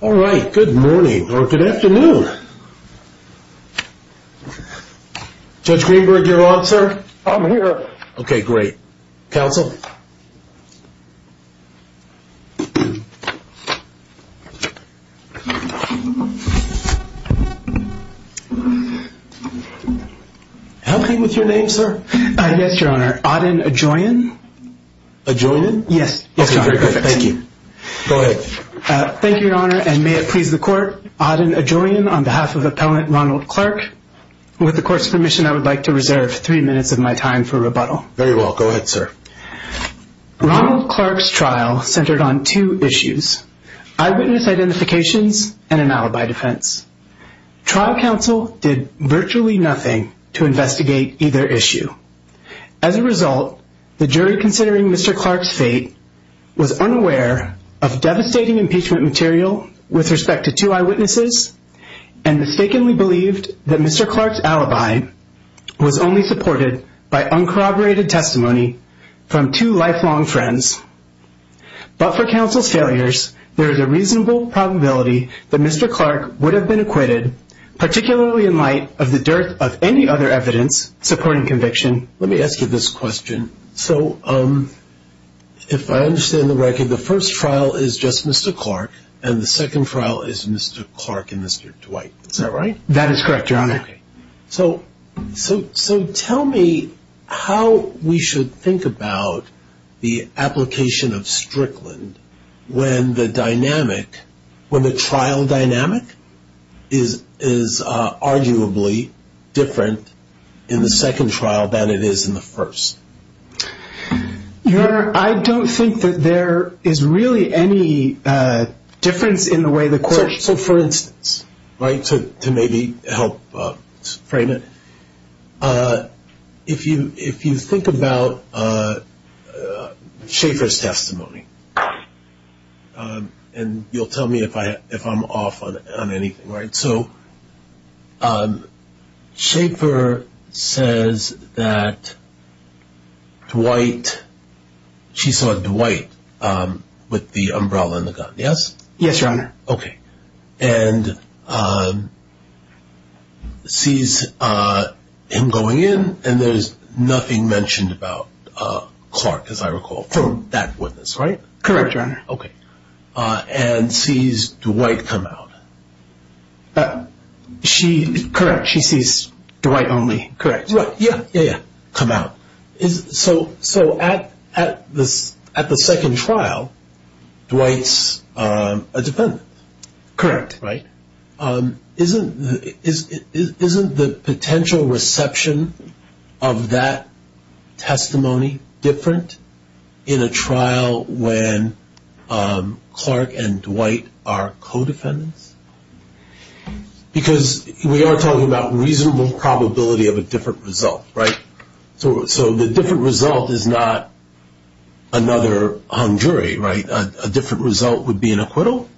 All right. Good morning or good afternoon. Judge Greenberg, you're on, sir? I'm here. Okay, great. Counsel? How come with your name, sir? Yes, Your Honor. Auden Adjoian. Adjoian? Yes. Yes, Your Honor. Okay, very good. Thank you. Go ahead. Thank you, Your Honor, and may it please the Court. Auden Adjoian on behalf of Appellant Ronald Clark. With the Court's permission, I would like to reserve three minutes of my time for rebuttal. Very well. Go ahead, sir. Ronald Clark's trial centered on two issues, eyewitness identifications and an alibi defense. Trial counsel did virtually nothing to investigate either issue. As a result, the jury considering Mr. Clark's fate was unaware of devastating impeachment material with respect to two eyewitnesses and mistakenly believed that Mr. Clark's alibi was only supported by uncorroborated testimony from two lifelong friends. But for counsel's failures, there is a reasonable probability that Mr. Clark would have been acquitted, particularly in light of the dearth of any other evidence supporting conviction. Let me ask you this question. So if I understand the record, the first trial is just Mr. Clark and the second trial is Mr. Clark and Mr. Dwight. Is that right? That is correct, Your Honor. So tell me how we should think about the application of Strickland when the dynamic, when the trial dynamic is arguably different in the second trial than it is in the first. Your Honor, I don't think that there is really any difference in the way the Court So for instance, right, to maybe help frame it, if you think about Schaefer's testimony, and you'll tell me if I'm off on anything, right? So Schaefer says that Dwight, she saw Dwight with the umbrella and the gun, yes? Yes, Your Honor. Okay. And sees him going in and there's nothing mentioned about Clark, as I recall, from that witness, right? Correct, Your Honor. Okay. And sees Dwight come out. She, correct, she sees Dwight only, correct. Yeah, yeah, yeah. Come out. So at the second trial, Dwight's a defendant. Correct. Right? Isn't the potential reception of that testimony different in a trial when Clark and Dwight are co-defendants? Because we are talking about reasonable probability of a different result, right? So the different result is not another hung jury, right? A different result would be an acquittal?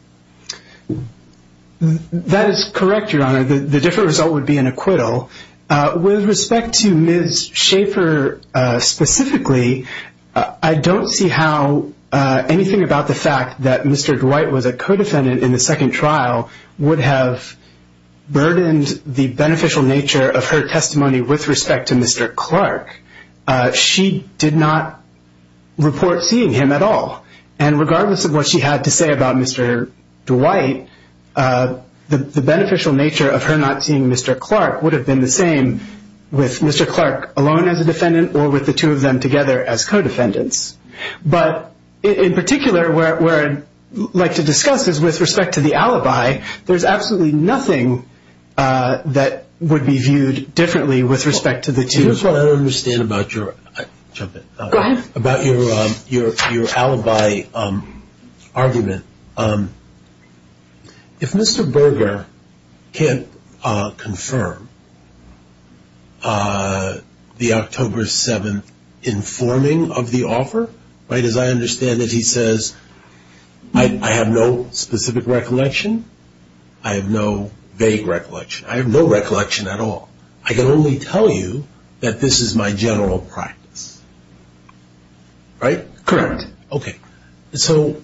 That is correct, Your Honor. The different result would be an acquittal. With respect to Ms. Schaefer specifically, I don't see how anything about the fact that Mr. Dwight was a co-defendant in the second trial would have burdened the beneficial nature of her testimony with respect to Mr. Clark. She did not report seeing him at all. And regardless of what she had to say about Mr. Dwight, the beneficial nature of her not seeing Mr. Clark would have been the same with Mr. Clark alone as a defendant or with the two of them together as co-defendants. But in particular, what I'd like to discuss is with respect to the alibi, there's absolutely nothing that would be viewed differently with respect to the two of them. I don't understand about your alibi argument. If Mr. Berger can't confirm the October 7th informing of the offer, right, as I understand it, he says, I have no specific recollection. I have no vague recollection. I have no recollection at all. I can only tell you that this is my general practice, right? Correct. Okay. So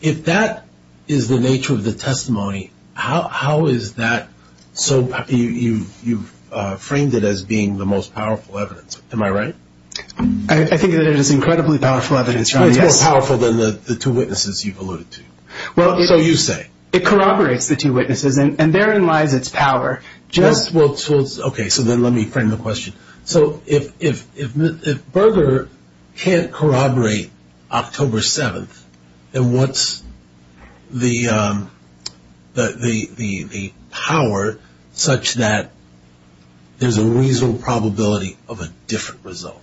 if that is the nature of the testimony, how is that so you've framed it as being the most powerful evidence. Am I right? I think that it is incredibly powerful evidence, John, yes. It's more powerful than the two witnesses you've alluded to. So you say. It corroborates the two witnesses, and therein lies its power. Okay. So then let me frame the question. So if Berger can't corroborate October 7th, then what's the power such that there's a reasonable probability of a different result?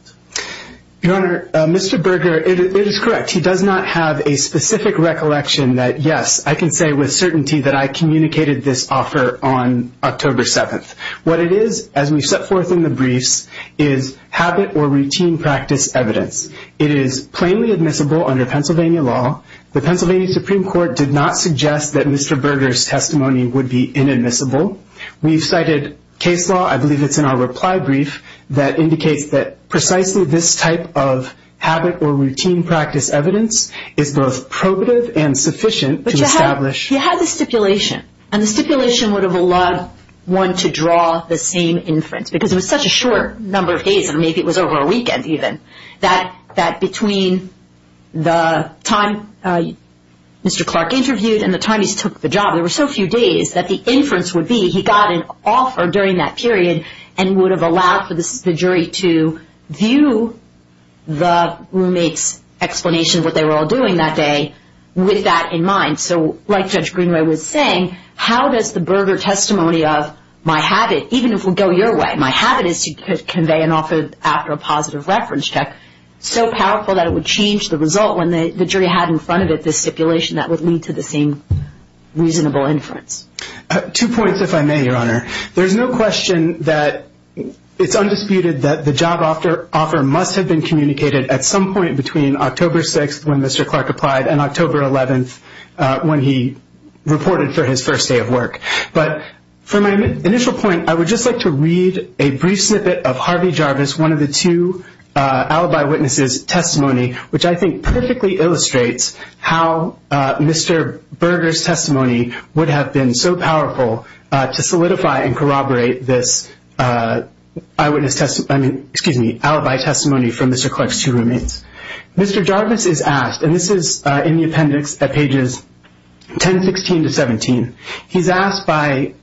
Your Honor, Mr. Berger, it is correct. He does not have a specific recollection that, yes, I can say with certainty that I communicated this offer on October 7th. What it is, as we've set forth in the briefs, is habit or routine practice evidence. It is plainly admissible under Pennsylvania law. The Pennsylvania Supreme Court did not suggest that Mr. Berger's testimony would be inadmissible. We've cited case law, I believe it's in our reply brief, that indicates that precisely this type of habit or routine practice evidence is both probative and sufficient to establish. He had the stipulation, and the stipulation would have allowed one to draw the same inference, because it was such a short number of days, and maybe it was over a weekend even, that between the time Mr. Clark interviewed and the time he took the job, there were so few days that the inference would be he got an offer during that period and would have allowed the jury to view the roommate's explanation of what they were all doing that day with that in mind. So like Judge Greenway was saying, how does the Berger testimony of my habit, even if we go your way, my habit is to convey an offer after a positive reference check, so powerful that it would change the result when the jury had in front of it the stipulation that would lead to the same reasonable inference? Two points, if I may, Your Honor. There's no question that it's undisputed that the job offer must have been communicated at some point between October 6th when Mr. Clark applied and October 11th when he reported for his first day of work. But for my initial point, I would just like to read a brief snippet of Harvey Jarvis, one of the two alibi witnesses' testimony, which I think perfectly illustrates how Mr. Berger's testimony would have been so powerful to solidify and corroborate this alibi testimony from Mr. Clark's two roommates. Mr. Jarvis is asked, and this is in the appendix at pages 10, 16 to 17, he's asked by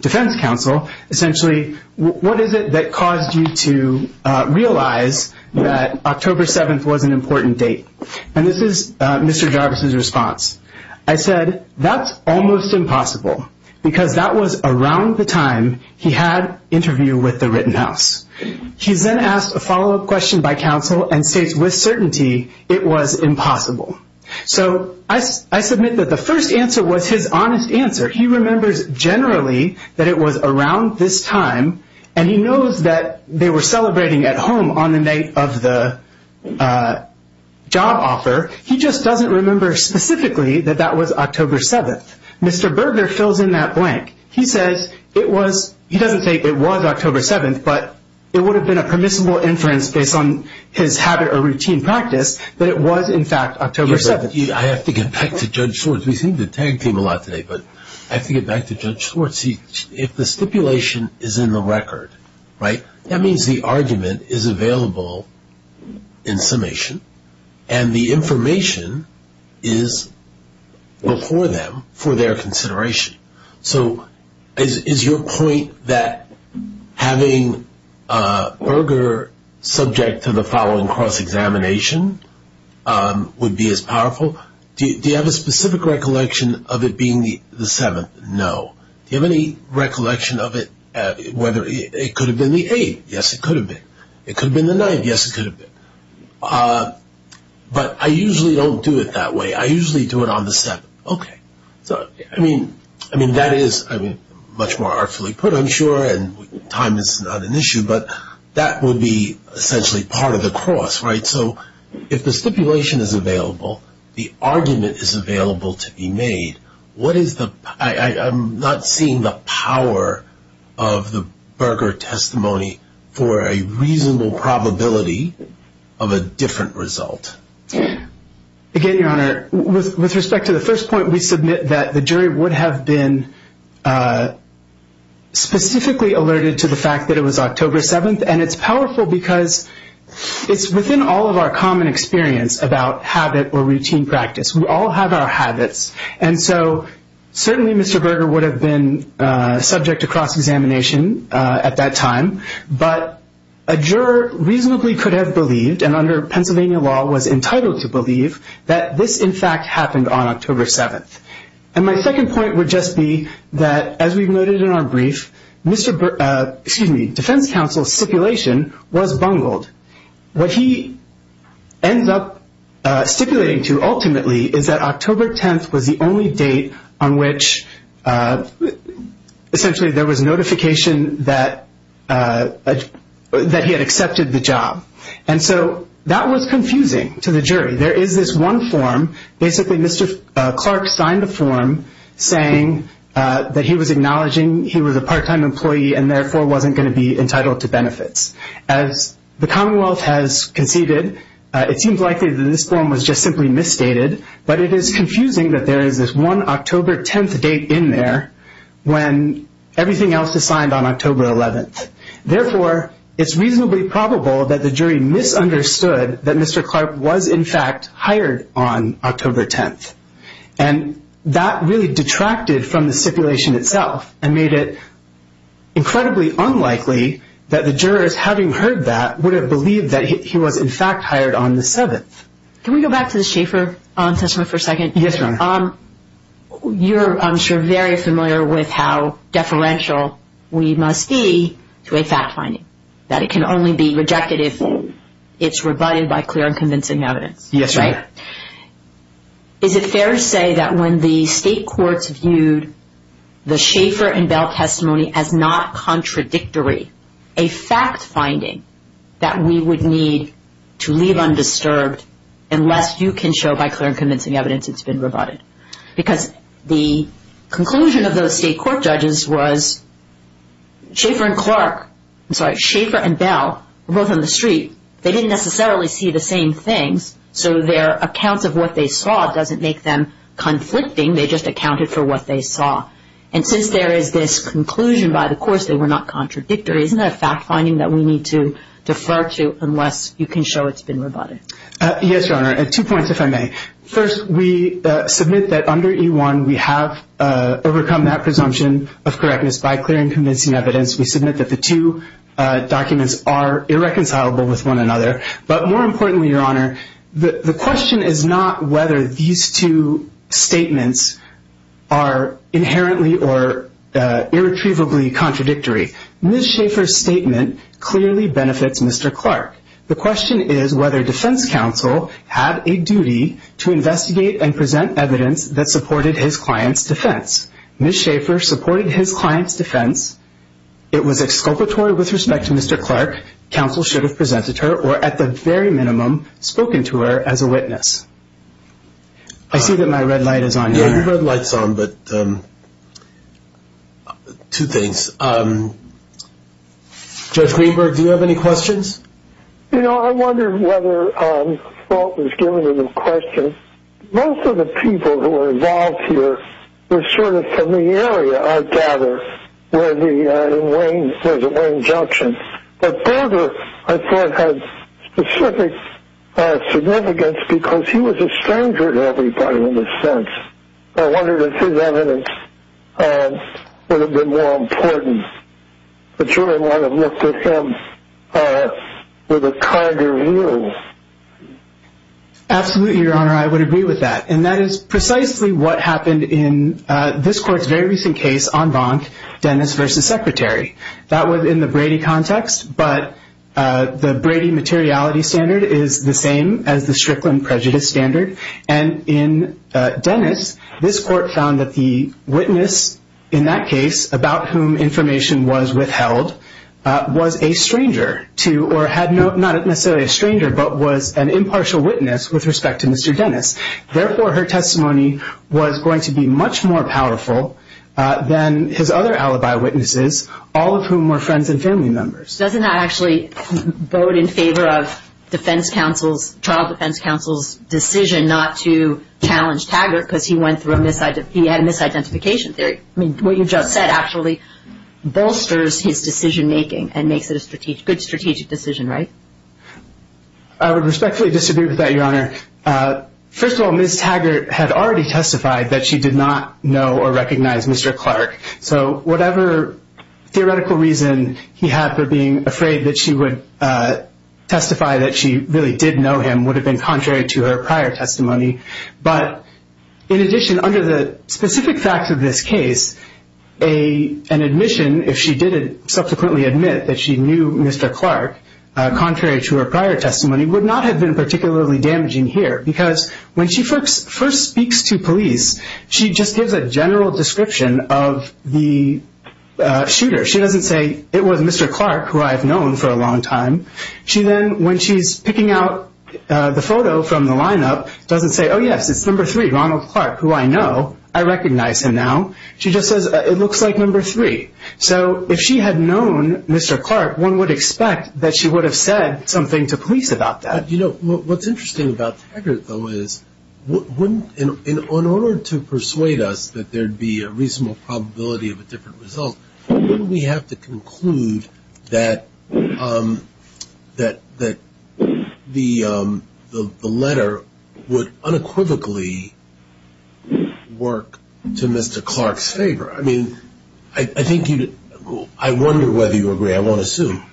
defense counsel essentially, what is it that caused you to realize that October 7th was an important date? And this is Mr. Jarvis' response. I said, that's almost impossible because that was around the time he had interview with the Rittenhouse. He's then asked a follow-up question by counsel and states with certainty it was impossible. So I submit that the first answer was his honest answer. He remembers generally that it was around this time, and he knows that they were celebrating at home on the night of the job offer. He just doesn't remember specifically that that was October 7th. Mr. Berger fills in that blank. He says it was, he doesn't say it was October 7th, but it would have been a permissible inference based on his habit or routine practice that it was in fact October 7th. I have to get back to Judge Swartz. We've seen the tag team a lot today, but I have to get back to Judge Swartz. See, if the stipulation is in the record, right, that means the argument is available in summation, and the information is before them for their consideration. So is your point that having Berger subject to the following cross-examination would be as powerful? Do you have a specific recollection of it being the 7th? No. Do you have any recollection of it, whether it could have been the 8th? Yes, it could have been. It could have been the 9th? Yes, it could have been. But I usually don't do it that way. I usually do it on the 7th. Okay. So, I mean, that is much more artfully put, I'm sure, and time is not an issue, but that would be essentially part of the cross, right? So if the stipulation is available, the argument is available to be made, I'm not seeing the power of the Berger testimony for a reasonable probability of a different result. Again, Your Honor, with respect to the first point, we submit that the jury would have been specifically alerted to the fact that it was October 7th, and it's powerful because it's within all of our common experience about habit or routine practice. We all have our habits, and so certainly Mr. Berger would have been subject to cross-examination at that time, but a juror reasonably could have believed, and under Pennsylvania law was entitled to believe, that this, in fact, happened on October 7th. And my second point would just be that, as we've noted in our brief, Defense Counsel's stipulation was bungled. What he ends up stipulating to, ultimately, is that October 10th was the only date on which essentially there was notification that he had accepted the job. And so that was confusing to the jury. There is this one form, basically Mr. Clark signed a form saying that he was acknowledging he was a part-time employee and therefore wasn't going to be entitled to benefits. As the Commonwealth has conceded, it seems likely that this form was just simply misstated, but it is confusing that there is this one October 10th date in there when everything else is signed on October 11th. Therefore, it's reasonably probable that the jury misunderstood that Mr. Clark was, in fact, hired on October 10th. And that really detracted from the stipulation itself and made it incredibly unlikely that the jurors, having heard that, would have believed that he was, in fact, hired on the 7th. Can we go back to the Schaeffer testimony for a second? Yes, Your Honor. You're, I'm sure, very familiar with how deferential we must be to a fact finding, that it can only be rejected if it's rebutted by clear and convincing evidence. Yes, Your Honor. Is it fair to say that when the state courts viewed the Schaeffer and Bell testimony as not contradictory, a fact finding that we would need to leave undisturbed unless you can show by clear and convincing evidence it's been rebutted? Because the conclusion of those state court judges was Schaeffer and Clark, I'm sorry, Schaeffer and Bell, both on the street, they didn't necessarily see the same things, so their accounts of what they saw doesn't make them conflicting. They just accounted for what they saw. And since there is this conclusion by the courts they were not contradictory, isn't that a fact finding that we need to defer to unless you can show it's been rebutted? Yes, Your Honor. Two points, if I may. First, we submit that under E-1 we have overcome that presumption of correctness by clear and convincing evidence. We submit that the two documents are irreconcilable with one another. But more importantly, Your Honor, the question is not whether these two statements are inherently or irretrievably contradictory. Ms. Schaeffer's statement clearly benefits Mr. Clark. The question is whether defense counsel had a duty to investigate and present evidence that supported his client's defense. Ms. Schaeffer supported his client's defense. It was exculpatory with respect to Mr. Clark. Counsel should have presented her or, at the very minimum, spoken to her as a witness. I see that my red light is on here. Your red light is on, but two things. Judge Greenberg, do you have any questions? You know, I wondered whether Fault was giving him questions. Most of the people who were involved here were sort of from the area, I gather, where the Wayne Junction. But Boulder, I thought, had specific significance because he was a stranger to everybody in a sense. I wondered if his evidence would have been more important. I'm sure I might have looked at him with a kinder view. Absolutely, Your Honor. I would agree with that. And that is precisely what happened in this court's very recent case on Bonk, Dennis v. Secretary. That was in the Brady context, but the Brady materiality standard is the same as the Strickland prejudice standard. And in Dennis, this court found that the witness in that case, about whom information was withheld, was a stranger to, or had no, not necessarily a stranger, but was an impartial witness with respect to Mr. Dennis. Therefore, her testimony was going to be much more powerful than his other alibi witnesses, all of whom were friends and family members. Doesn't that actually vote in favor of defense counsel's, trial defense counsel's decision not to challenge Taggart because he had a misidentification theory? I mean, what you just said actually bolsters his decision-making and makes it a good strategic decision, right? I would respectfully disagree with that, Your Honor. First of all, Ms. Taggart had already testified that she did not know or recognize Mr. Clark. So whatever theoretical reason he had for being afraid that she would testify that she really did know him would have been contrary to her prior testimony. But in addition, under the specific facts of this case, an admission, if she did subsequently admit that she knew Mr. Clark, contrary to her prior testimony, would not have been particularly damaging here. Because when she first speaks to police, she just gives a general description of the shooter. She doesn't say, it was Mr. Clark, who I've known for a long time. She then, when she's picking out the photo from the lineup, doesn't say, oh, yes, it's number three, Ronald Clark, who I know. I recognize him now. She just says, it looks like number three. So if she had known Mr. Clark, one would expect that she would have said something to police about that. You know, what's interesting about Taggart, though, is in order to persuade us that there would be a reasonable probability of a different result, we have to conclude that the letter would unequivocally work to Mr. Clark's favor. I mean, I wonder whether you agree. I won't assume.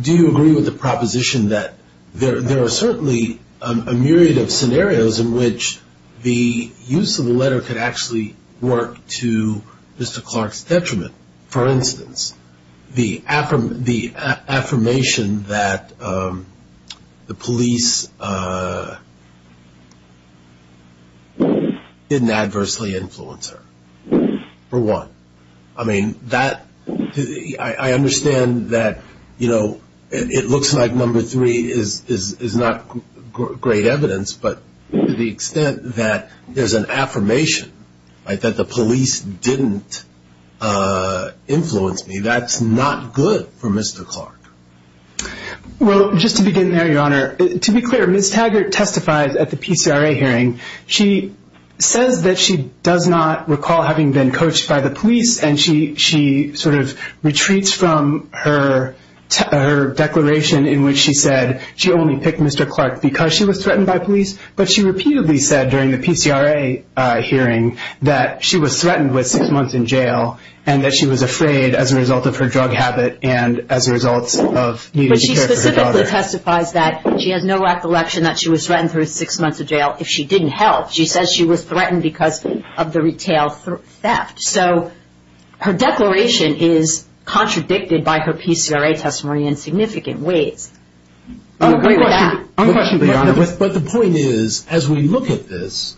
Do you agree with the proposition that there are certainly a myriad of scenarios in which the use of the letter could actually work to Mr. Clark's detriment? For instance, the affirmation that the police didn't adversely influence her, for one. I mean, I understand that it looks like number three is not great evidence, but to the extent that there's an affirmation that the police didn't influence me, that's not good for Mr. Clark. Well, just to begin there, Your Honor, to be clear, Ms. Taggart testifies at the PCRA hearing. She says that she does not recall having been coached by the police, and she sort of retreats from her declaration in which she said she only picked Mr. Clark because she was threatened by police, but she repeatedly said during the PCRA hearing that she was threatened with six months in jail and that she was afraid as a result of her drug habit and as a result of needing to care for her daughter. She also testifies that she has no recollection that she was threatened for six months in jail if she didn't help. She says she was threatened because of the retail theft. So her declaration is contradicted by her PCRA testimony in significant ways. Unquestionably, Your Honor, but the point is, as we look at this,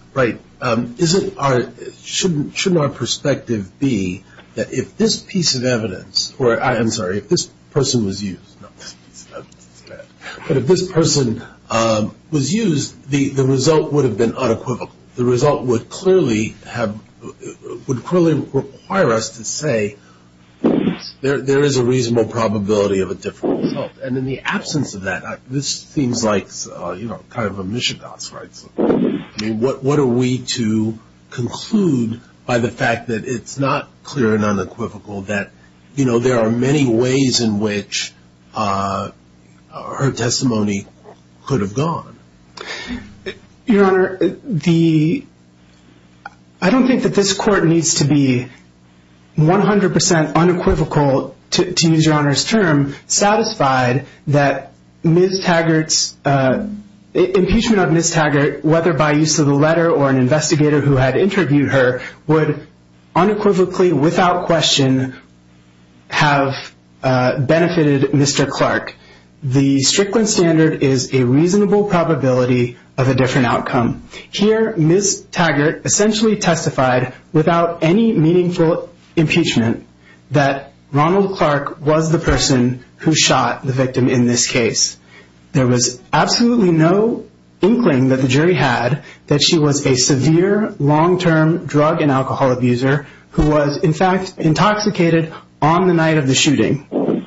shouldn't our perspective be that if this piece of evidence, or I'm sorry, if this person was used, no, this piece of evidence is bad, but if this person was used, the result would have been unequivocal. The result would clearly require us to say there is a reasonable probability of a different result, and in the absence of that, this seems like kind of a mishegoss, right? What are we to conclude by the fact that it's not clear and unequivocal that, you know, there are many ways in which her testimony could have gone? Your Honor, I don't think that this Court needs to be 100% unequivocal, to use Your Honor's term, satisfied that Ms. Taggart's, impeachment of Ms. Taggart, whether by use of the letter or an investigator who had interviewed her, would unequivocally, without question, have benefited Mr. Clark. The Strickland standard is a reasonable probability of a different outcome. Here, Ms. Taggart essentially testified without any meaningful impeachment that Ronald Clark was the person who shot the victim in this case. There was absolutely no inkling that the jury had that she was a severe, long-term drug and alcohol abuser who was, in fact, intoxicated on the night of the shooting.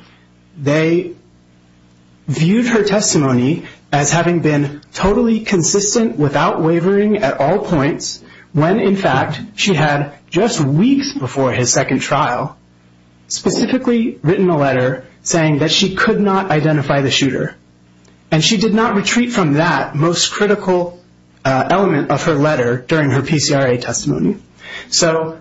They viewed her testimony as having been totally consistent without wavering at all points, when, in fact, she had, just weeks before his second trial, specifically written a letter saying that she could not identify the shooter. And she did not retreat from that most critical element of her letter during her PCRA testimony. So,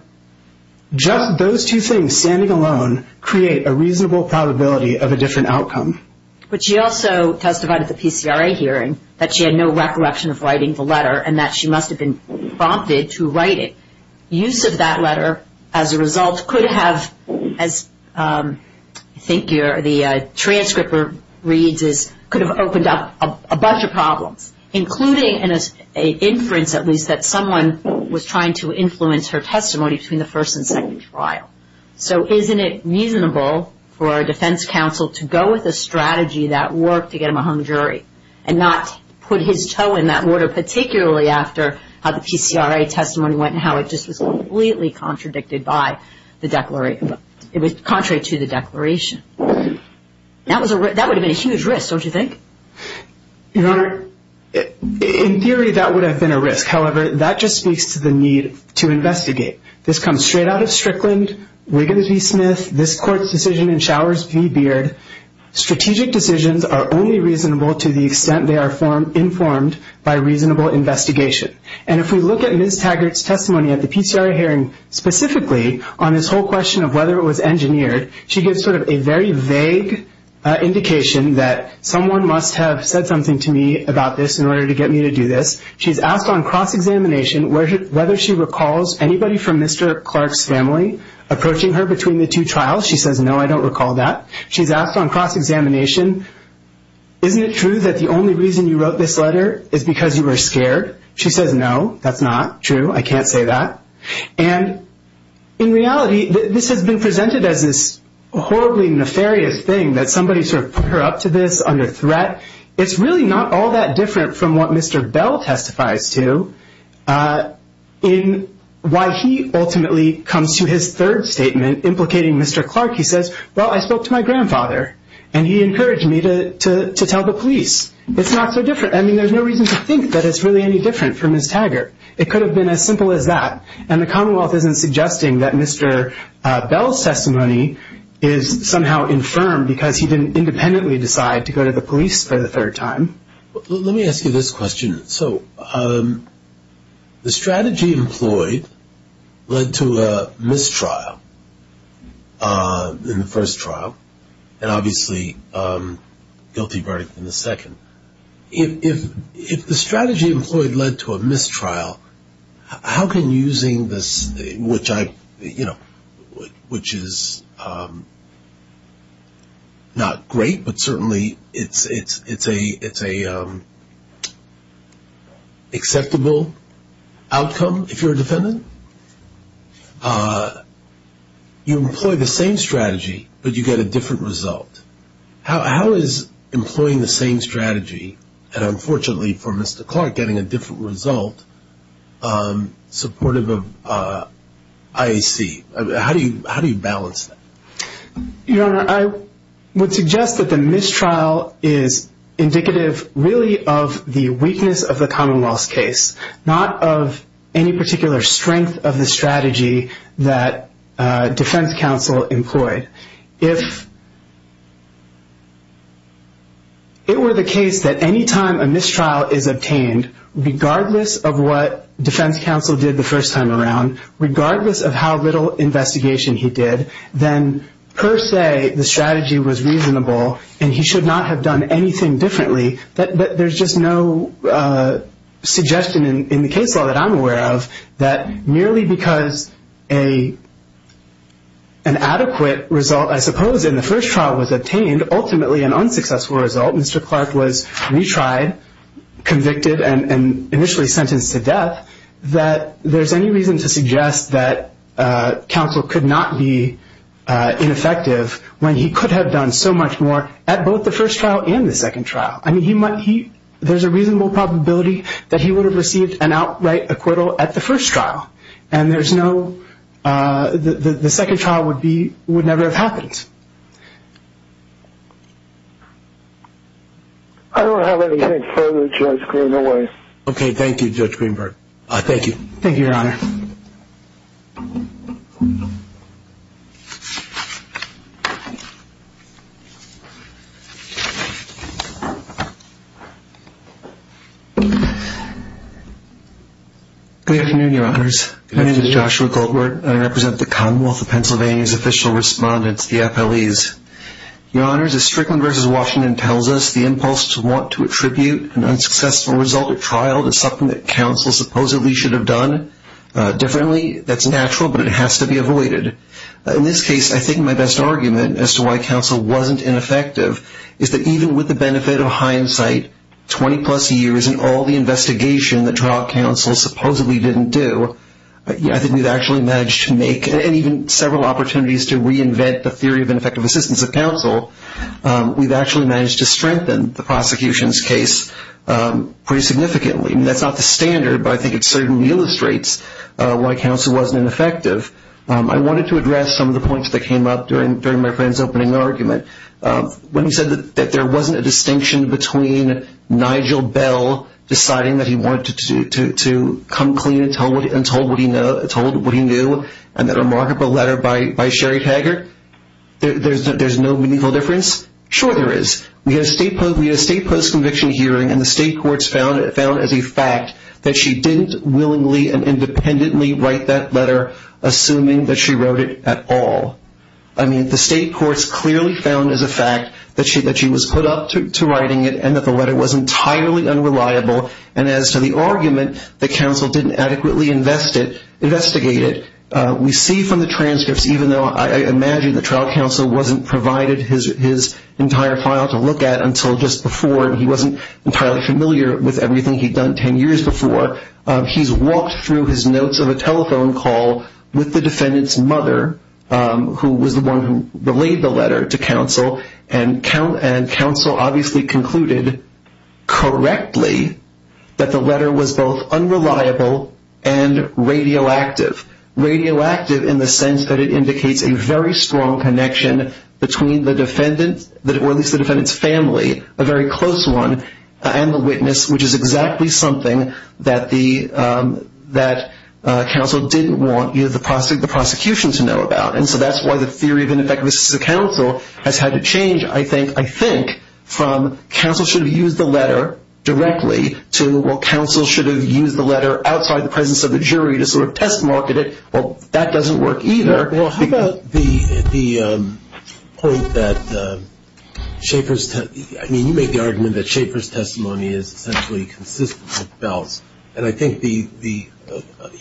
just those two things, standing alone, create a reasonable probability of a different outcome. But she also testified at the PCRA hearing that she had no recollection of writing the letter and that she must have been prompted to write it. Use of that letter, as a result, could have, as I think the transcript reads, could have opened up a bunch of problems, including an inference, at least, that someone was trying to influence her testimony between the first and second trial. So, isn't it reasonable for a defense counsel to go with a strategy that worked to get him a hung jury and not put his toe in that water, particularly after how the PCRA testimony went and how it just was completely contradicted by the declaration. It was contrary to the declaration. That would have been a huge risk, don't you think? Your Honor, in theory, that would have been a risk. However, that just speaks to the need to investigate. This comes straight out of Strickland, Wiggins v. Smith, this Court's decision in Showers v. Beard. Strategic decisions are only reasonable to the extent they are informed by reasonable investigation. And if we look at Ms. Taggart's testimony at the PCRA hearing, specifically on this whole question of whether it was engineered, she gives sort of a very vague indication that someone must have said something to me about this in order to get me to do this. She's asked on cross-examination whether she recalls anybody from Mr. Clark's family approaching her between the two trials. She says, no, I don't recall that. She's asked on cross-examination, isn't it true that the only reason you wrote this letter is because you were scared? She says, no, that's not true. I can't say that. And in reality, this has been presented as this horribly nefarious thing that somebody sort of put her up to this under threat. It's really not all that different from what Mr. Bell testifies to in why he ultimately comes to his third statement implicating Mr. Clark. He says, well, I spoke to my grandfather, and he encouraged me to tell the police. It's not so different. I mean, there's no reason to think that it's really any different from Ms. Taggart. It could have been as simple as that. And the Commonwealth isn't suggesting that Mr. Bell's testimony is somehow infirm because he didn't independently decide to go to the police for the third time. Let me ask you this question. So the strategy employed led to a mistrial in the first trial, and obviously guilty verdict in the second. If the strategy employed led to a mistrial, how can using this, which is not great, but certainly it's an acceptable outcome if you're a defendant, you employ the same strategy, but you get a different result. How is employing the same strategy, and unfortunately for Mr. Clark, getting a different result supportive of IAC? How do you balance that? Your Honor, I would suggest that the mistrial is indicative really of the weakness of the Commonwealth's case, not of any particular strength of the strategy that defense counsel employed. If it were the case that any time a mistrial is obtained, regardless of what defense counsel did the first time around, regardless of how little investigation he did, then per se the strategy was reasonable and he should not have done anything differently. But there's just no suggestion in the case law that I'm aware of that merely because an adequate result, I suppose, in the first trial was obtained, ultimately an unsuccessful result, Mr. Clark was retried, convicted, and initially sentenced to death, that there's any reason to suggest that counsel could not be ineffective when he could have done so much more at both the first trial and the second trial. I mean, there's a reasonable probability that he would have received an outright acquittal at the first trial, and the second trial would never have happened. I don't have anything further, Judge Greenberg. Okay, thank you, Judge Greenberg. Thank you. Thank you, Your Honor. Good afternoon, Your Honors. My name is Joshua Goldberg, and I represent the Commonwealth of Pennsylvania's official respondents, the FLEs. Your Honors, as Strickland v. Washington tells us, the impulse to want to attribute an unsuccessful result at trial to something that counsel supposedly should have done differently, that's natural. But it has to be avoided. In this case, I think my best argument as to why counsel wasn't ineffective is that even with the benefit of hindsight, 20-plus years and all the investigation that trial counsel supposedly didn't do, I think we've actually managed to make, and even several opportunities to reinvent, the theory of ineffective assistance of counsel. We've actually managed to strengthen the prosecution's case pretty significantly. That's not the standard, but I think it certainly illustrates why counsel wasn't ineffective. I wanted to address some of the points that came up during my friend's opening argument. When he said that there wasn't a distinction between Nigel Bell deciding that he wanted to come clean and told what he knew in that remarkable letter by Sherry Taggart, there's no meaningful difference? Sure there is. We had a state post-conviction hearing, and the state courts found as a fact that she didn't willingly and independently write that letter, assuming that she wrote it at all. I mean, the state courts clearly found as a fact that she was put up to writing it and that the letter was entirely unreliable. And as to the argument that counsel didn't adequately investigate it, we see from the transcripts, even though I imagine that trial counsel wasn't provided his entire file to look at until just before, and he wasn't entirely familiar with everything he'd done 10 years before, he's walked through his notes of a telephone call with the defendant's mother, who was the one who relayed the letter to counsel, and counsel obviously concluded correctly that the letter was both unreliable and radioactive. Radioactive in the sense that it indicates a very strong connection between the defendant, or at least the defendant's family, a very close one, and the witness, which is exactly something that counsel didn't want the prosecution to know about. And so that's why the theory of ineffective assistance to counsel has had to change, I think, from counsel should have used the letter directly to, well, that doesn't work either. Well, how about the point that Schaefer's testimony, I mean, you make the argument that Schaefer's testimony is essentially consistent with Bell's, and I think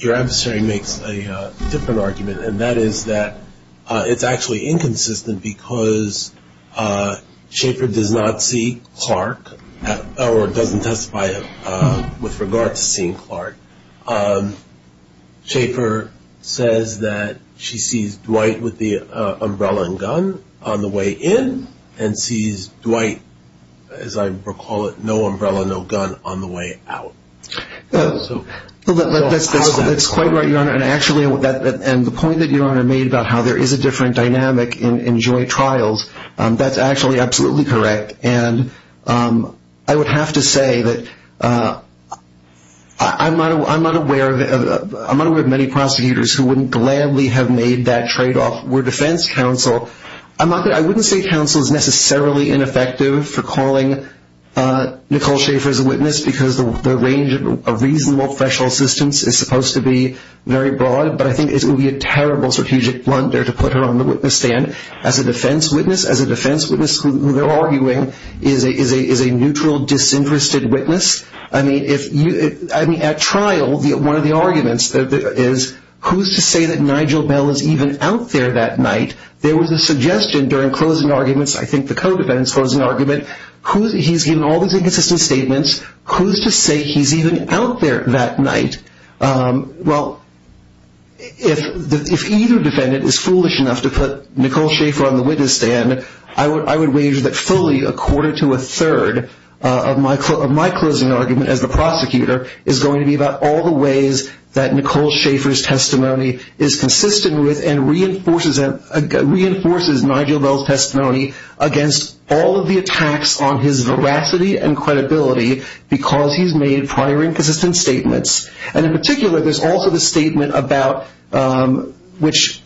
your adversary makes a different argument, and that is that it's actually inconsistent because Schaefer does not see Clark, or doesn't testify with regard to seeing Clark. Schaefer says that she sees Dwight with the umbrella and gun on the way in, and sees Dwight, as I recall it, no umbrella, no gun on the way out. That's quite right, Your Honor, and actually the point that Your Honor made about how there is a different dynamic in joint trials, that's actually absolutely correct. And I would have to say that I'm not aware of many prosecutors who wouldn't gladly have made that tradeoff were defense counsel. I wouldn't say counsel is necessarily ineffective for calling Nicole Schaefer as a witness because the range of reasonable threshold assistance is supposed to be very broad, but I think it would be a terrible strategic blunder to put her on the witness stand as a defense witness, who they're arguing is a neutral, disinterested witness. I mean, at trial, one of the arguments is, who's to say that Nigel Bell is even out there that night? There was a suggestion during closing arguments, I think the co-defendant's closing argument, he's given all these inconsistent statements, who's to say he's even out there that night? Well, if either defendant is foolish enough to put Nicole Schaefer on the witness stand, I would wager that fully a quarter to a third of my closing argument as the prosecutor is going to be about all the ways that Nicole Schaefer's testimony is consistent with and reinforces Nigel Bell's testimony against all of the attacks on his veracity and credibility because he's made prior inconsistent statements. And in particular, there's also the statement about, which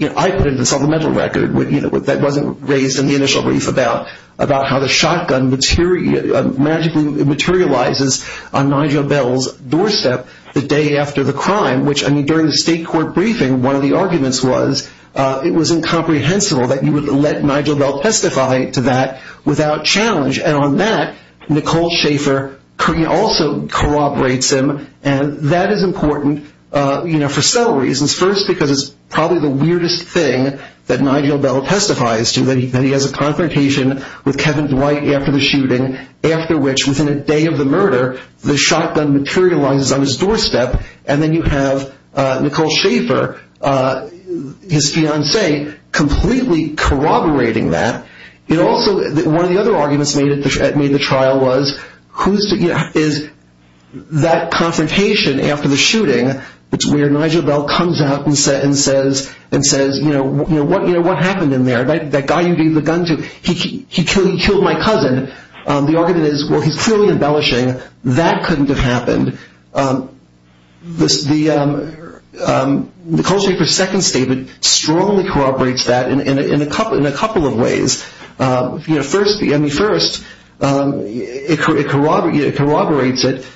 I put in the supplemental record, that wasn't raised in the initial brief, about how the shotgun magically materializes on Nigel Bell's doorstep the day after the crime, which, I mean, during the state court briefing, one of the arguments was it was incomprehensible that you would let Nigel Bell testify to that without challenge. And on that, Nicole Schaefer also corroborates him. And that is important for several reasons. First, because it's probably the weirdest thing that Nigel Bell testifies to, that he has a confrontation with Kevin Dwight after the shooting, after which, within a day of the murder, the shotgun materializes on his doorstep. And then you have Nicole Schaefer, his fiancée, completely corroborating that. One of the other arguments made at the trial was that confrontation after the shooting, where Nigel Bell comes up and says, you know, what happened in there? That guy you gave the gun to, he killed my cousin. The argument is, well, he's clearly embellishing. That couldn't have happened. Nicole Schaefer's second statement strongly corroborates that in a couple of ways. First, it corroborates it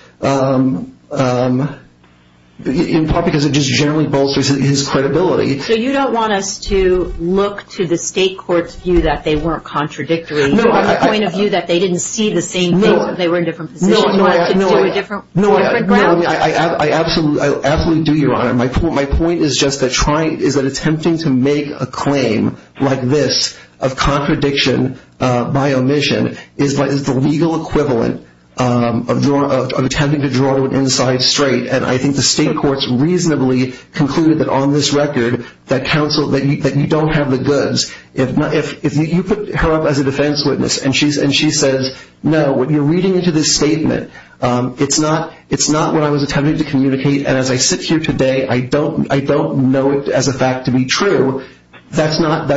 in part because it just generally bolsters his credibility. So you don't want us to look to the state court's view that they weren't contradictory, from the point of view that they didn't see the same thing, that they were in different positions, wanted to do a different ground? No, I absolutely do, Your Honor. My point is just that attempting to make a claim like this of contradiction by omission is the legal equivalent of attempting to draw an inside straight. And I think the state courts reasonably concluded that on this record that you don't have the goods. If you put her up as a defense witness and she says, no, when you're reading into this statement, it's not what I was attempting to communicate, and as I sit here today, I don't know it as a fact to be true, that's not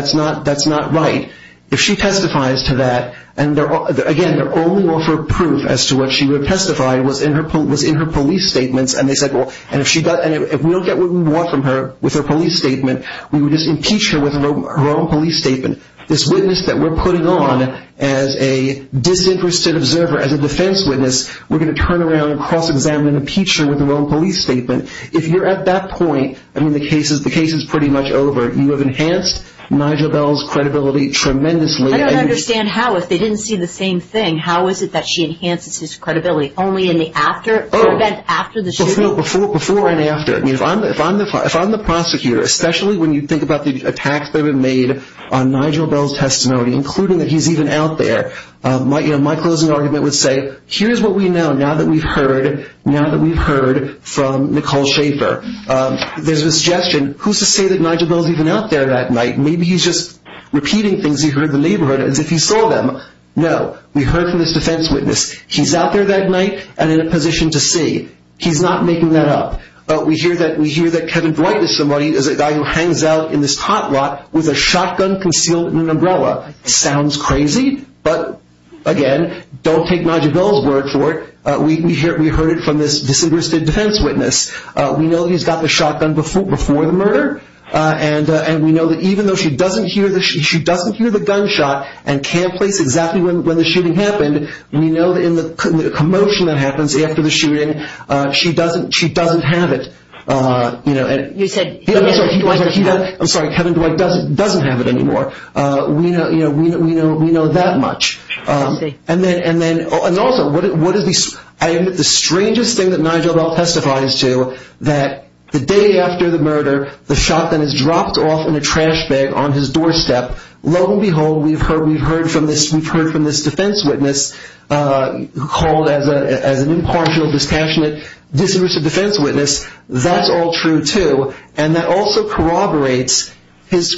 right. If she testifies to that, and again, their only offer of proof as to what she would have testified was in her police statements, and they said, well, and if we don't get what we want from her with her police statement, we would just impeach her with her own police statement. This witness that we're putting on as a disinterested observer, as a defense witness, we're going to turn around and cross-examine and impeach her with her own police statement. If you're at that point, I mean, the case is pretty much over. You have enhanced Nigel Bell's credibility tremendously. I don't understand how. If they didn't see the same thing, how is it that she enhances his credibility? Only in the event after the shooting? Before and after. If I'm the prosecutor, especially when you think about the attacks that were made on Nigel Bell's testimony, including that he's even out there, my closing argument would say, here's what we know now that we've heard from Nicole Schaefer. There's a suggestion. Who's to say that Nigel Bell's even out there that night? Maybe he's just repeating things he heard in the neighborhood as if he saw them. No, we heard from this defense witness. He's out there that night and in a position to see. He's not making that up. We hear that Kevin Bright is a guy who hangs out in this hot lot with a shotgun concealed in an umbrella. Sounds crazy, but, again, don't take Nigel Bell's word for it. We heard it from this disinterested defense witness. We know he's got the shotgun before the murder, and we know that even though she doesn't hear the gunshot and can't place exactly when the shooting happened, we know that in the commotion that happens after the shooting, she doesn't have it. You said he doesn't have it. I'm sorry, Kevin Bright doesn't have it anymore. We know that much. I see. And also, I admit the strangest thing that Nigel Bell testifies to, that the day after the murder, the shotgun is dropped off in a trash bag on his doorstep. Lo and behold, we've heard from this defense witness who called as an impartial, dispassionate, disinterested defense witness, that's all true, too. And that also corroborates his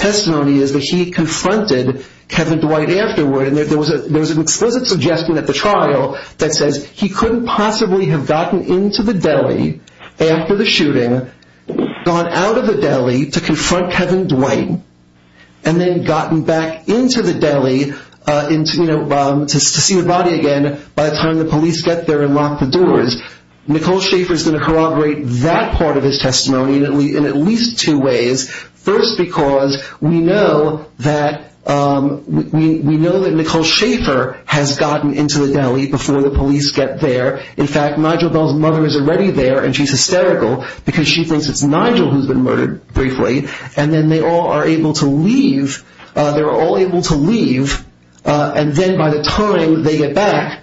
testimony is that he confronted Kevin Dwight afterward. There was an explicit suggestion at the trial that says he couldn't possibly have gotten into the deli after the shooting, gone out of the deli to confront Kevin Dwight, and then gotten back into the deli to see the body again by the time the police get there and lock the doors. Nicole Schaefer's going to corroborate that part of his testimony in at least two ways. First, because we know that Nicole Schaefer has gotten into the deli before the police get there. In fact, Nigel Bell's mother is already there, and she's hysterical because she thinks it's Nigel who's been murdered, briefly. And then they all are able to leave. They're all able to leave. And then by the time they get back,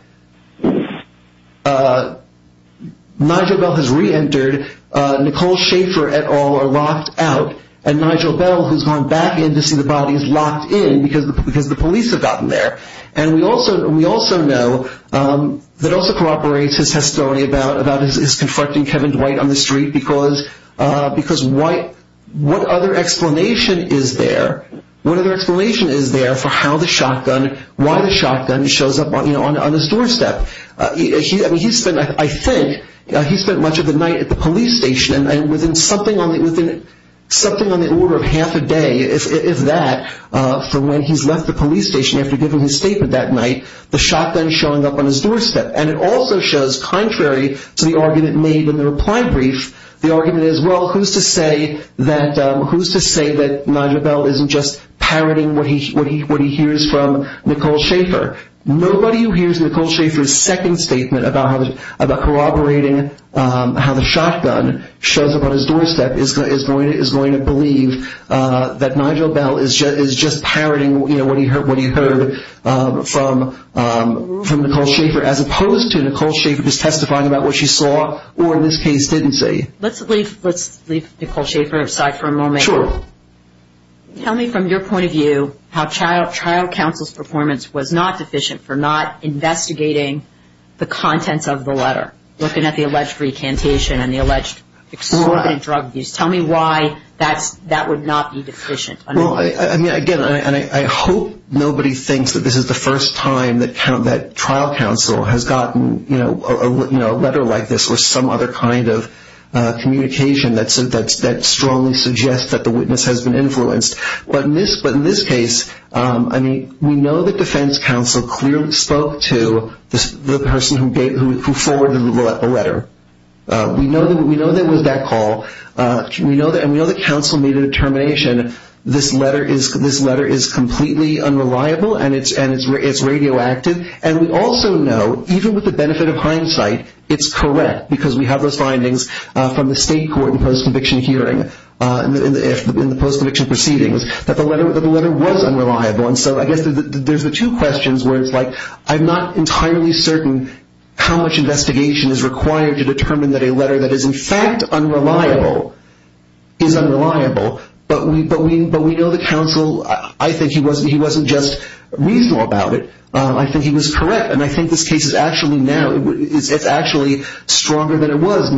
Nigel Bell has reentered. Nicole Schaefer et al. are locked out. And Nigel Bell, who's gone back in to see the body, is locked in because the police have gotten there. And we also know that also corroborates his testimony about his confronting Kevin Dwight on the street because what other explanation is there for how the shotgun, why the shotgun shows up on his doorstep? I think he spent much of the night at the police station, and within something on the order of half a day, if that, for when he's left the police station after giving his statement that night, the shotgun showing up on his doorstep. And it also shows, contrary to the argument made in the reply brief, the argument is, well, who's to say that Nigel Bell isn't just parroting what he hears from Nicole Schaefer? Nobody who hears Nicole Schaefer's second statement about corroborating how the shotgun shows up on his doorstep is going to believe that Nigel Bell is just parroting what he heard from Nicole Schaefer, as opposed to Nicole Schaefer just testifying about what she saw or, in this case, didn't see. Let's leave Nicole Schaefer aside for a moment. Sure. Tell me, from your point of view, how Child Counsel's performance was not deficient for not investigating the contents of the letter, looking at the alleged recantation and the alleged exorbitant drug abuse. Tell me why that would not be deficient. Again, I hope nobody thinks that this is the first time that trial counsel has gotten a letter like this or some other kind of communication that strongly suggests that the witness has been influenced. But in this case, we know that defense counsel clearly spoke to the person who forwarded the letter. We know there was that call, and we know that counsel made a determination, this letter is completely unreliable and it's radioactive. And we also know, even with the benefit of hindsight, it's correct, because we have those findings from the state court and post-conviction hearing and the post-conviction proceedings, that the letter was unreliable. And so I guess there's the two questions where it's like, I'm not entirely certain how much investigation is required to determine that a letter that is in fact unreliable is unreliable. But we know that counsel, I think he wasn't just reasonable about it. I think he was correct. And I think this case is actually stronger than it was.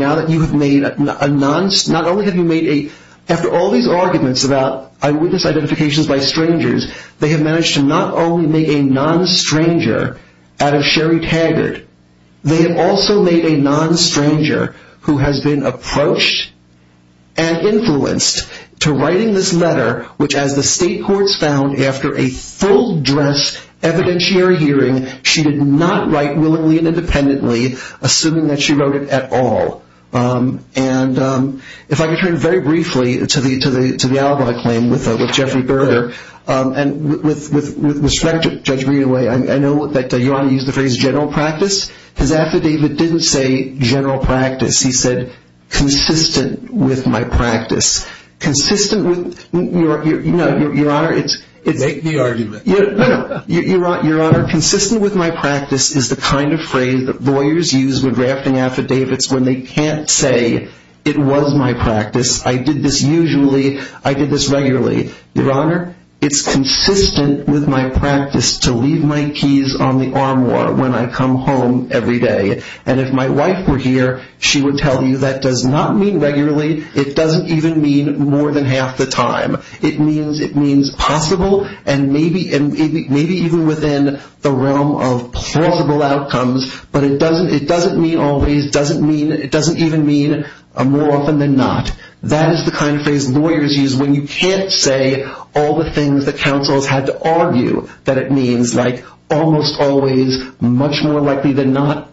After all these arguments about eyewitness identifications by strangers, they have managed to not only make a non-stranger out of Sherry Taggart, they have also made a non-stranger who has been approached and influenced to writing this letter, which as the state courts found after a full dress evidentiary hearing, she did not write willingly and independently, assuming that she wrote it at all. And if I could turn very briefly to the alibi claim with Jeffrey Berger, and with respect to Judge Greenaway, I know that you want to use the phrase general practice. His affidavit didn't say general practice. He said consistent with my practice. Consistent with your honor. Make the argument. Your honor, consistent with my practice is the kind of phrase that lawyers use with drafting affidavits when they can't say it was my practice. I did this usually. I did this regularly. Your honor, it's consistent with my practice to leave my keys on the armoire when I come home every day. And if my wife were here, she would tell you that does not mean regularly. It doesn't even mean more than half the time. It means possible and maybe even within the realm of plausible outcomes, but it doesn't mean always. It doesn't even mean more often than not. That is the kind of phrase lawyers use when you can't say all the things that counsels had to argue that it means, like almost always, much more likely than not.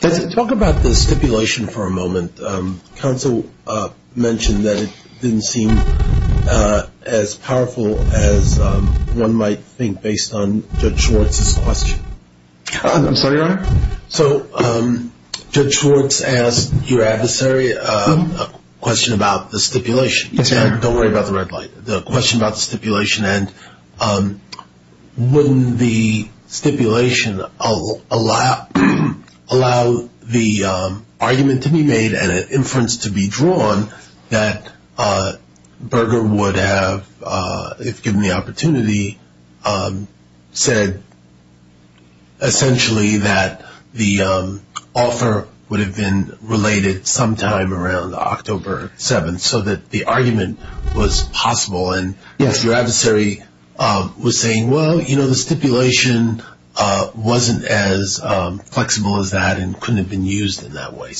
Talk about the stipulation for a moment. Counsel mentioned that it didn't seem as powerful as one might think based on Judge Schwartz's question. I'm sorry, your honor? So Judge Schwartz asked your adversary a question about the stipulation. Yes, sir. Don't worry about the red light. The question about the stipulation and wouldn't the stipulation allow the argument to be made and an inference to be drawn that Berger would have, if given the opportunity, said essentially that the author would have been related sometime around October 7th so that the argument was possible and your adversary was saying, well, you know, the stipulation wasn't as flexible as that and couldn't have been used in that way.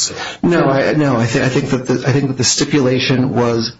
No, I think that the stipulation was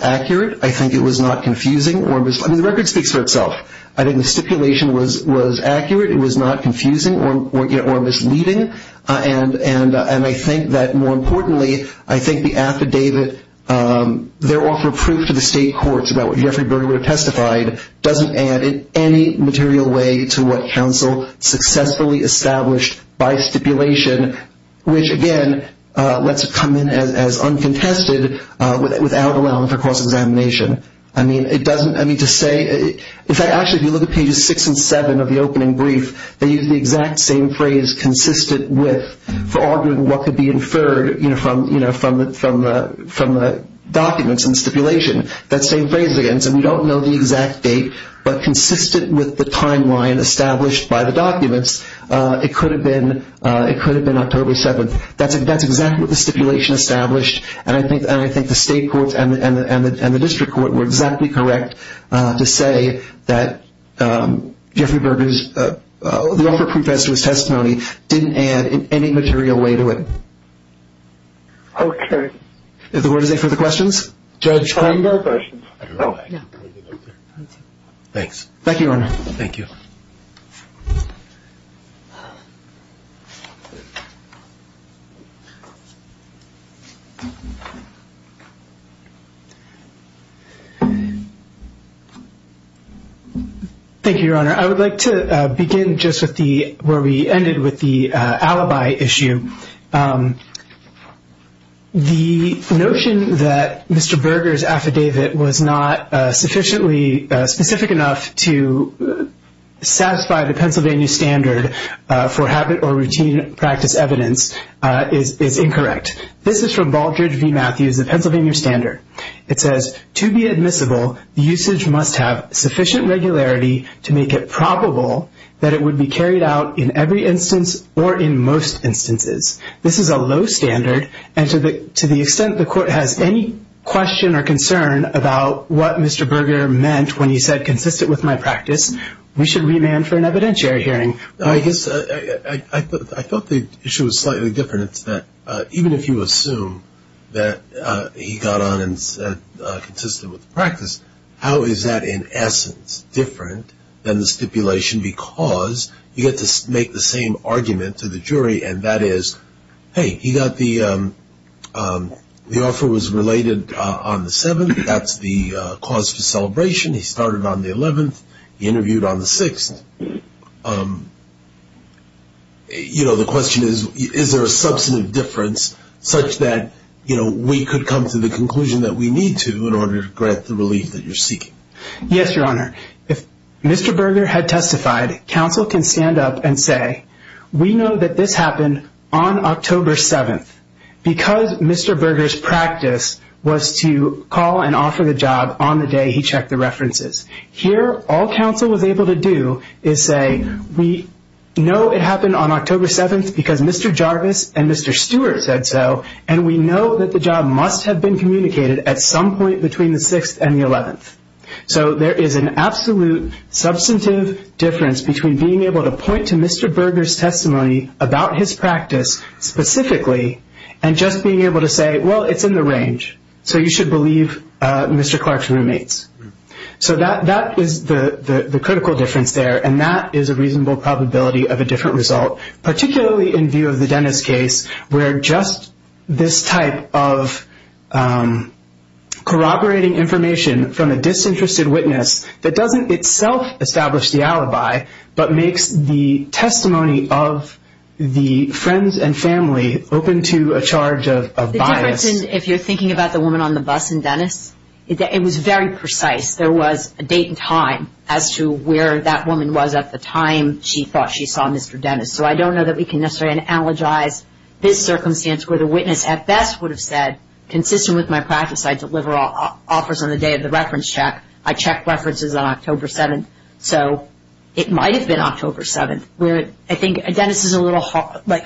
accurate. I think it was not confusing. The record speaks for itself. I think the stipulation was accurate. It was not confusing or misleading. And I think that, more importantly, I think the affidavit, their offer of proof to the state courts about what Jeffrey Berger would have testified, doesn't add in any material way to what counsel successfully established by stipulation, which, again, lets it come in as uncontested without allowance for cross-examination. I mean, it doesn't, I mean, to say, in fact, actually if you look at pages 6 and 7 of the opening brief, they use the exact same phrase, consistent with, for arguing what could be inferred from the documents and stipulation, that same phrase again. So we don't know the exact date, but consistent with the timeline established by the documents, it could have been October 7th. That's exactly what the stipulation established, and I think the state courts and the district court were exactly correct to say that Jeffrey Berger's, the offer of proof as to his testimony didn't add in any material way to it. Okay. If the word is there for the questions? Judge. I have no questions. Oh, no. Thanks. Thank you, Your Honor. Thank you. Thank you, Your Honor. I would like to begin just with the, where we ended with the alibi issue. The notion that Mr. Berger's affidavit was not sufficiently specific enough to satisfy the Pennsylvania standard for habit or routine practice evidence is incorrect. This is from Baldrige v. Matthews, the Pennsylvania standard. It says, to be admissible, the usage must have sufficient regularity to make it probable that it would be carried out in every instance or in most instances. This is a low standard, and to the extent the court has any question or concern about what Mr. Berger meant when he said consistent with my practice, we should remand for an evidentiary hearing. I guess I thought the issue was slightly different. It's that even if you assume that he got on and said consistent with the practice, how is that in essence different than the stipulation because you get to make the same argument to the jury, and that is, hey, he got the offer was related on the 7th. That's the cause for celebration. He started on the 11th. He interviewed on the 6th. You know, the question is, is there a substantive difference such that, you know, we could come to the conclusion that we need to in order to grant the relief that you're seeking? Yes, Your Honor. If Mr. Berger had testified, counsel can stand up and say, we know that this happened on October 7th because Mr. Berger's practice was to call and offer the job on the day he checked the references. Here, all counsel was able to do is say, we know it happened on October 7th because Mr. Jarvis and Mr. Stewart said so, and we know that the job must have been communicated at some point between the 6th and the 11th. So there is an absolute substantive difference between being able to point to Mr. Berger's testimony about his practice specifically and just being able to say, well, it's in the range, so you should believe Mr. Clark's roommates. So that is the critical difference there, and that is a reasonable probability of a different result, particularly in view of the Dennis case where just this type of corroborating information from a disinterested witness that doesn't itself establish the alibi, but makes the testimony of the friends and family open to a charge of bias. If you're thinking about the woman on the bus in Dennis, it was very precise. There was a date and time as to where that woman was at the time she thought she saw Mr. Dennis. So I don't know that we can necessarily analogize this circumstance where the witness at best would have said, consistent with my practice, I deliver offers on the day of the reference check. I check references on October 7th. So it might have been October 7th. I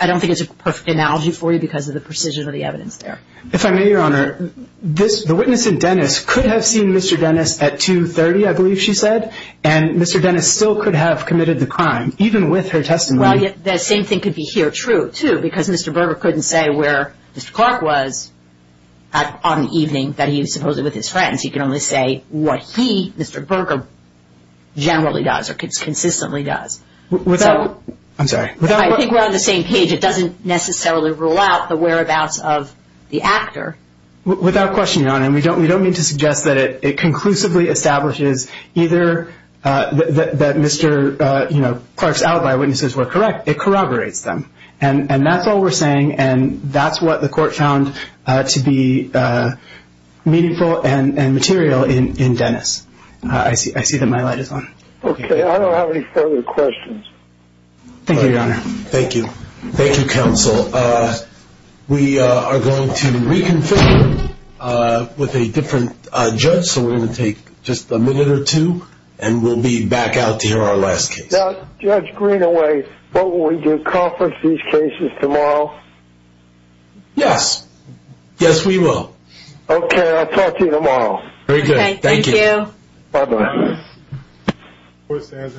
don't think it's a perfect analogy for you because of the precision of the evidence there. If I may, Your Honor, the witness in Dennis could have seen Mr. Dennis at 2.30, I believe she said, and Mr. Dennis still could have committed the crime, even with her testimony. Well, the same thing could be here true, too, because Mr. Berger couldn't say where Mr. Clark was on the evening that he was supposedly with his friends. He could only say what he, Mr. Berger, generally does or consistently does. I'm sorry. I think we're on the same page. It doesn't necessarily rule out the whereabouts of the actor. Without question, Your Honor. We don't mean to suggest that it conclusively establishes either that Mr. Clark's alibi witnesses were correct. It corroborates them, and that's all we're saying, and that's what the court found to be meaningful and material in Dennis. I see that my light is on. Okay. I don't have any further questions. Thank you, Your Honor. Thank you. Thank you, Counsel. We are going to reconfigure with a different judge, so we're going to take just a minute or two, and we'll be back out to hear our last case. Judge Greenaway, what will we do? Conference these cases tomorrow? Yes. Yes, we will. Okay. I'll talk to you tomorrow. Very good. Thank you. Thank you. Bye-bye. Court stands in recess.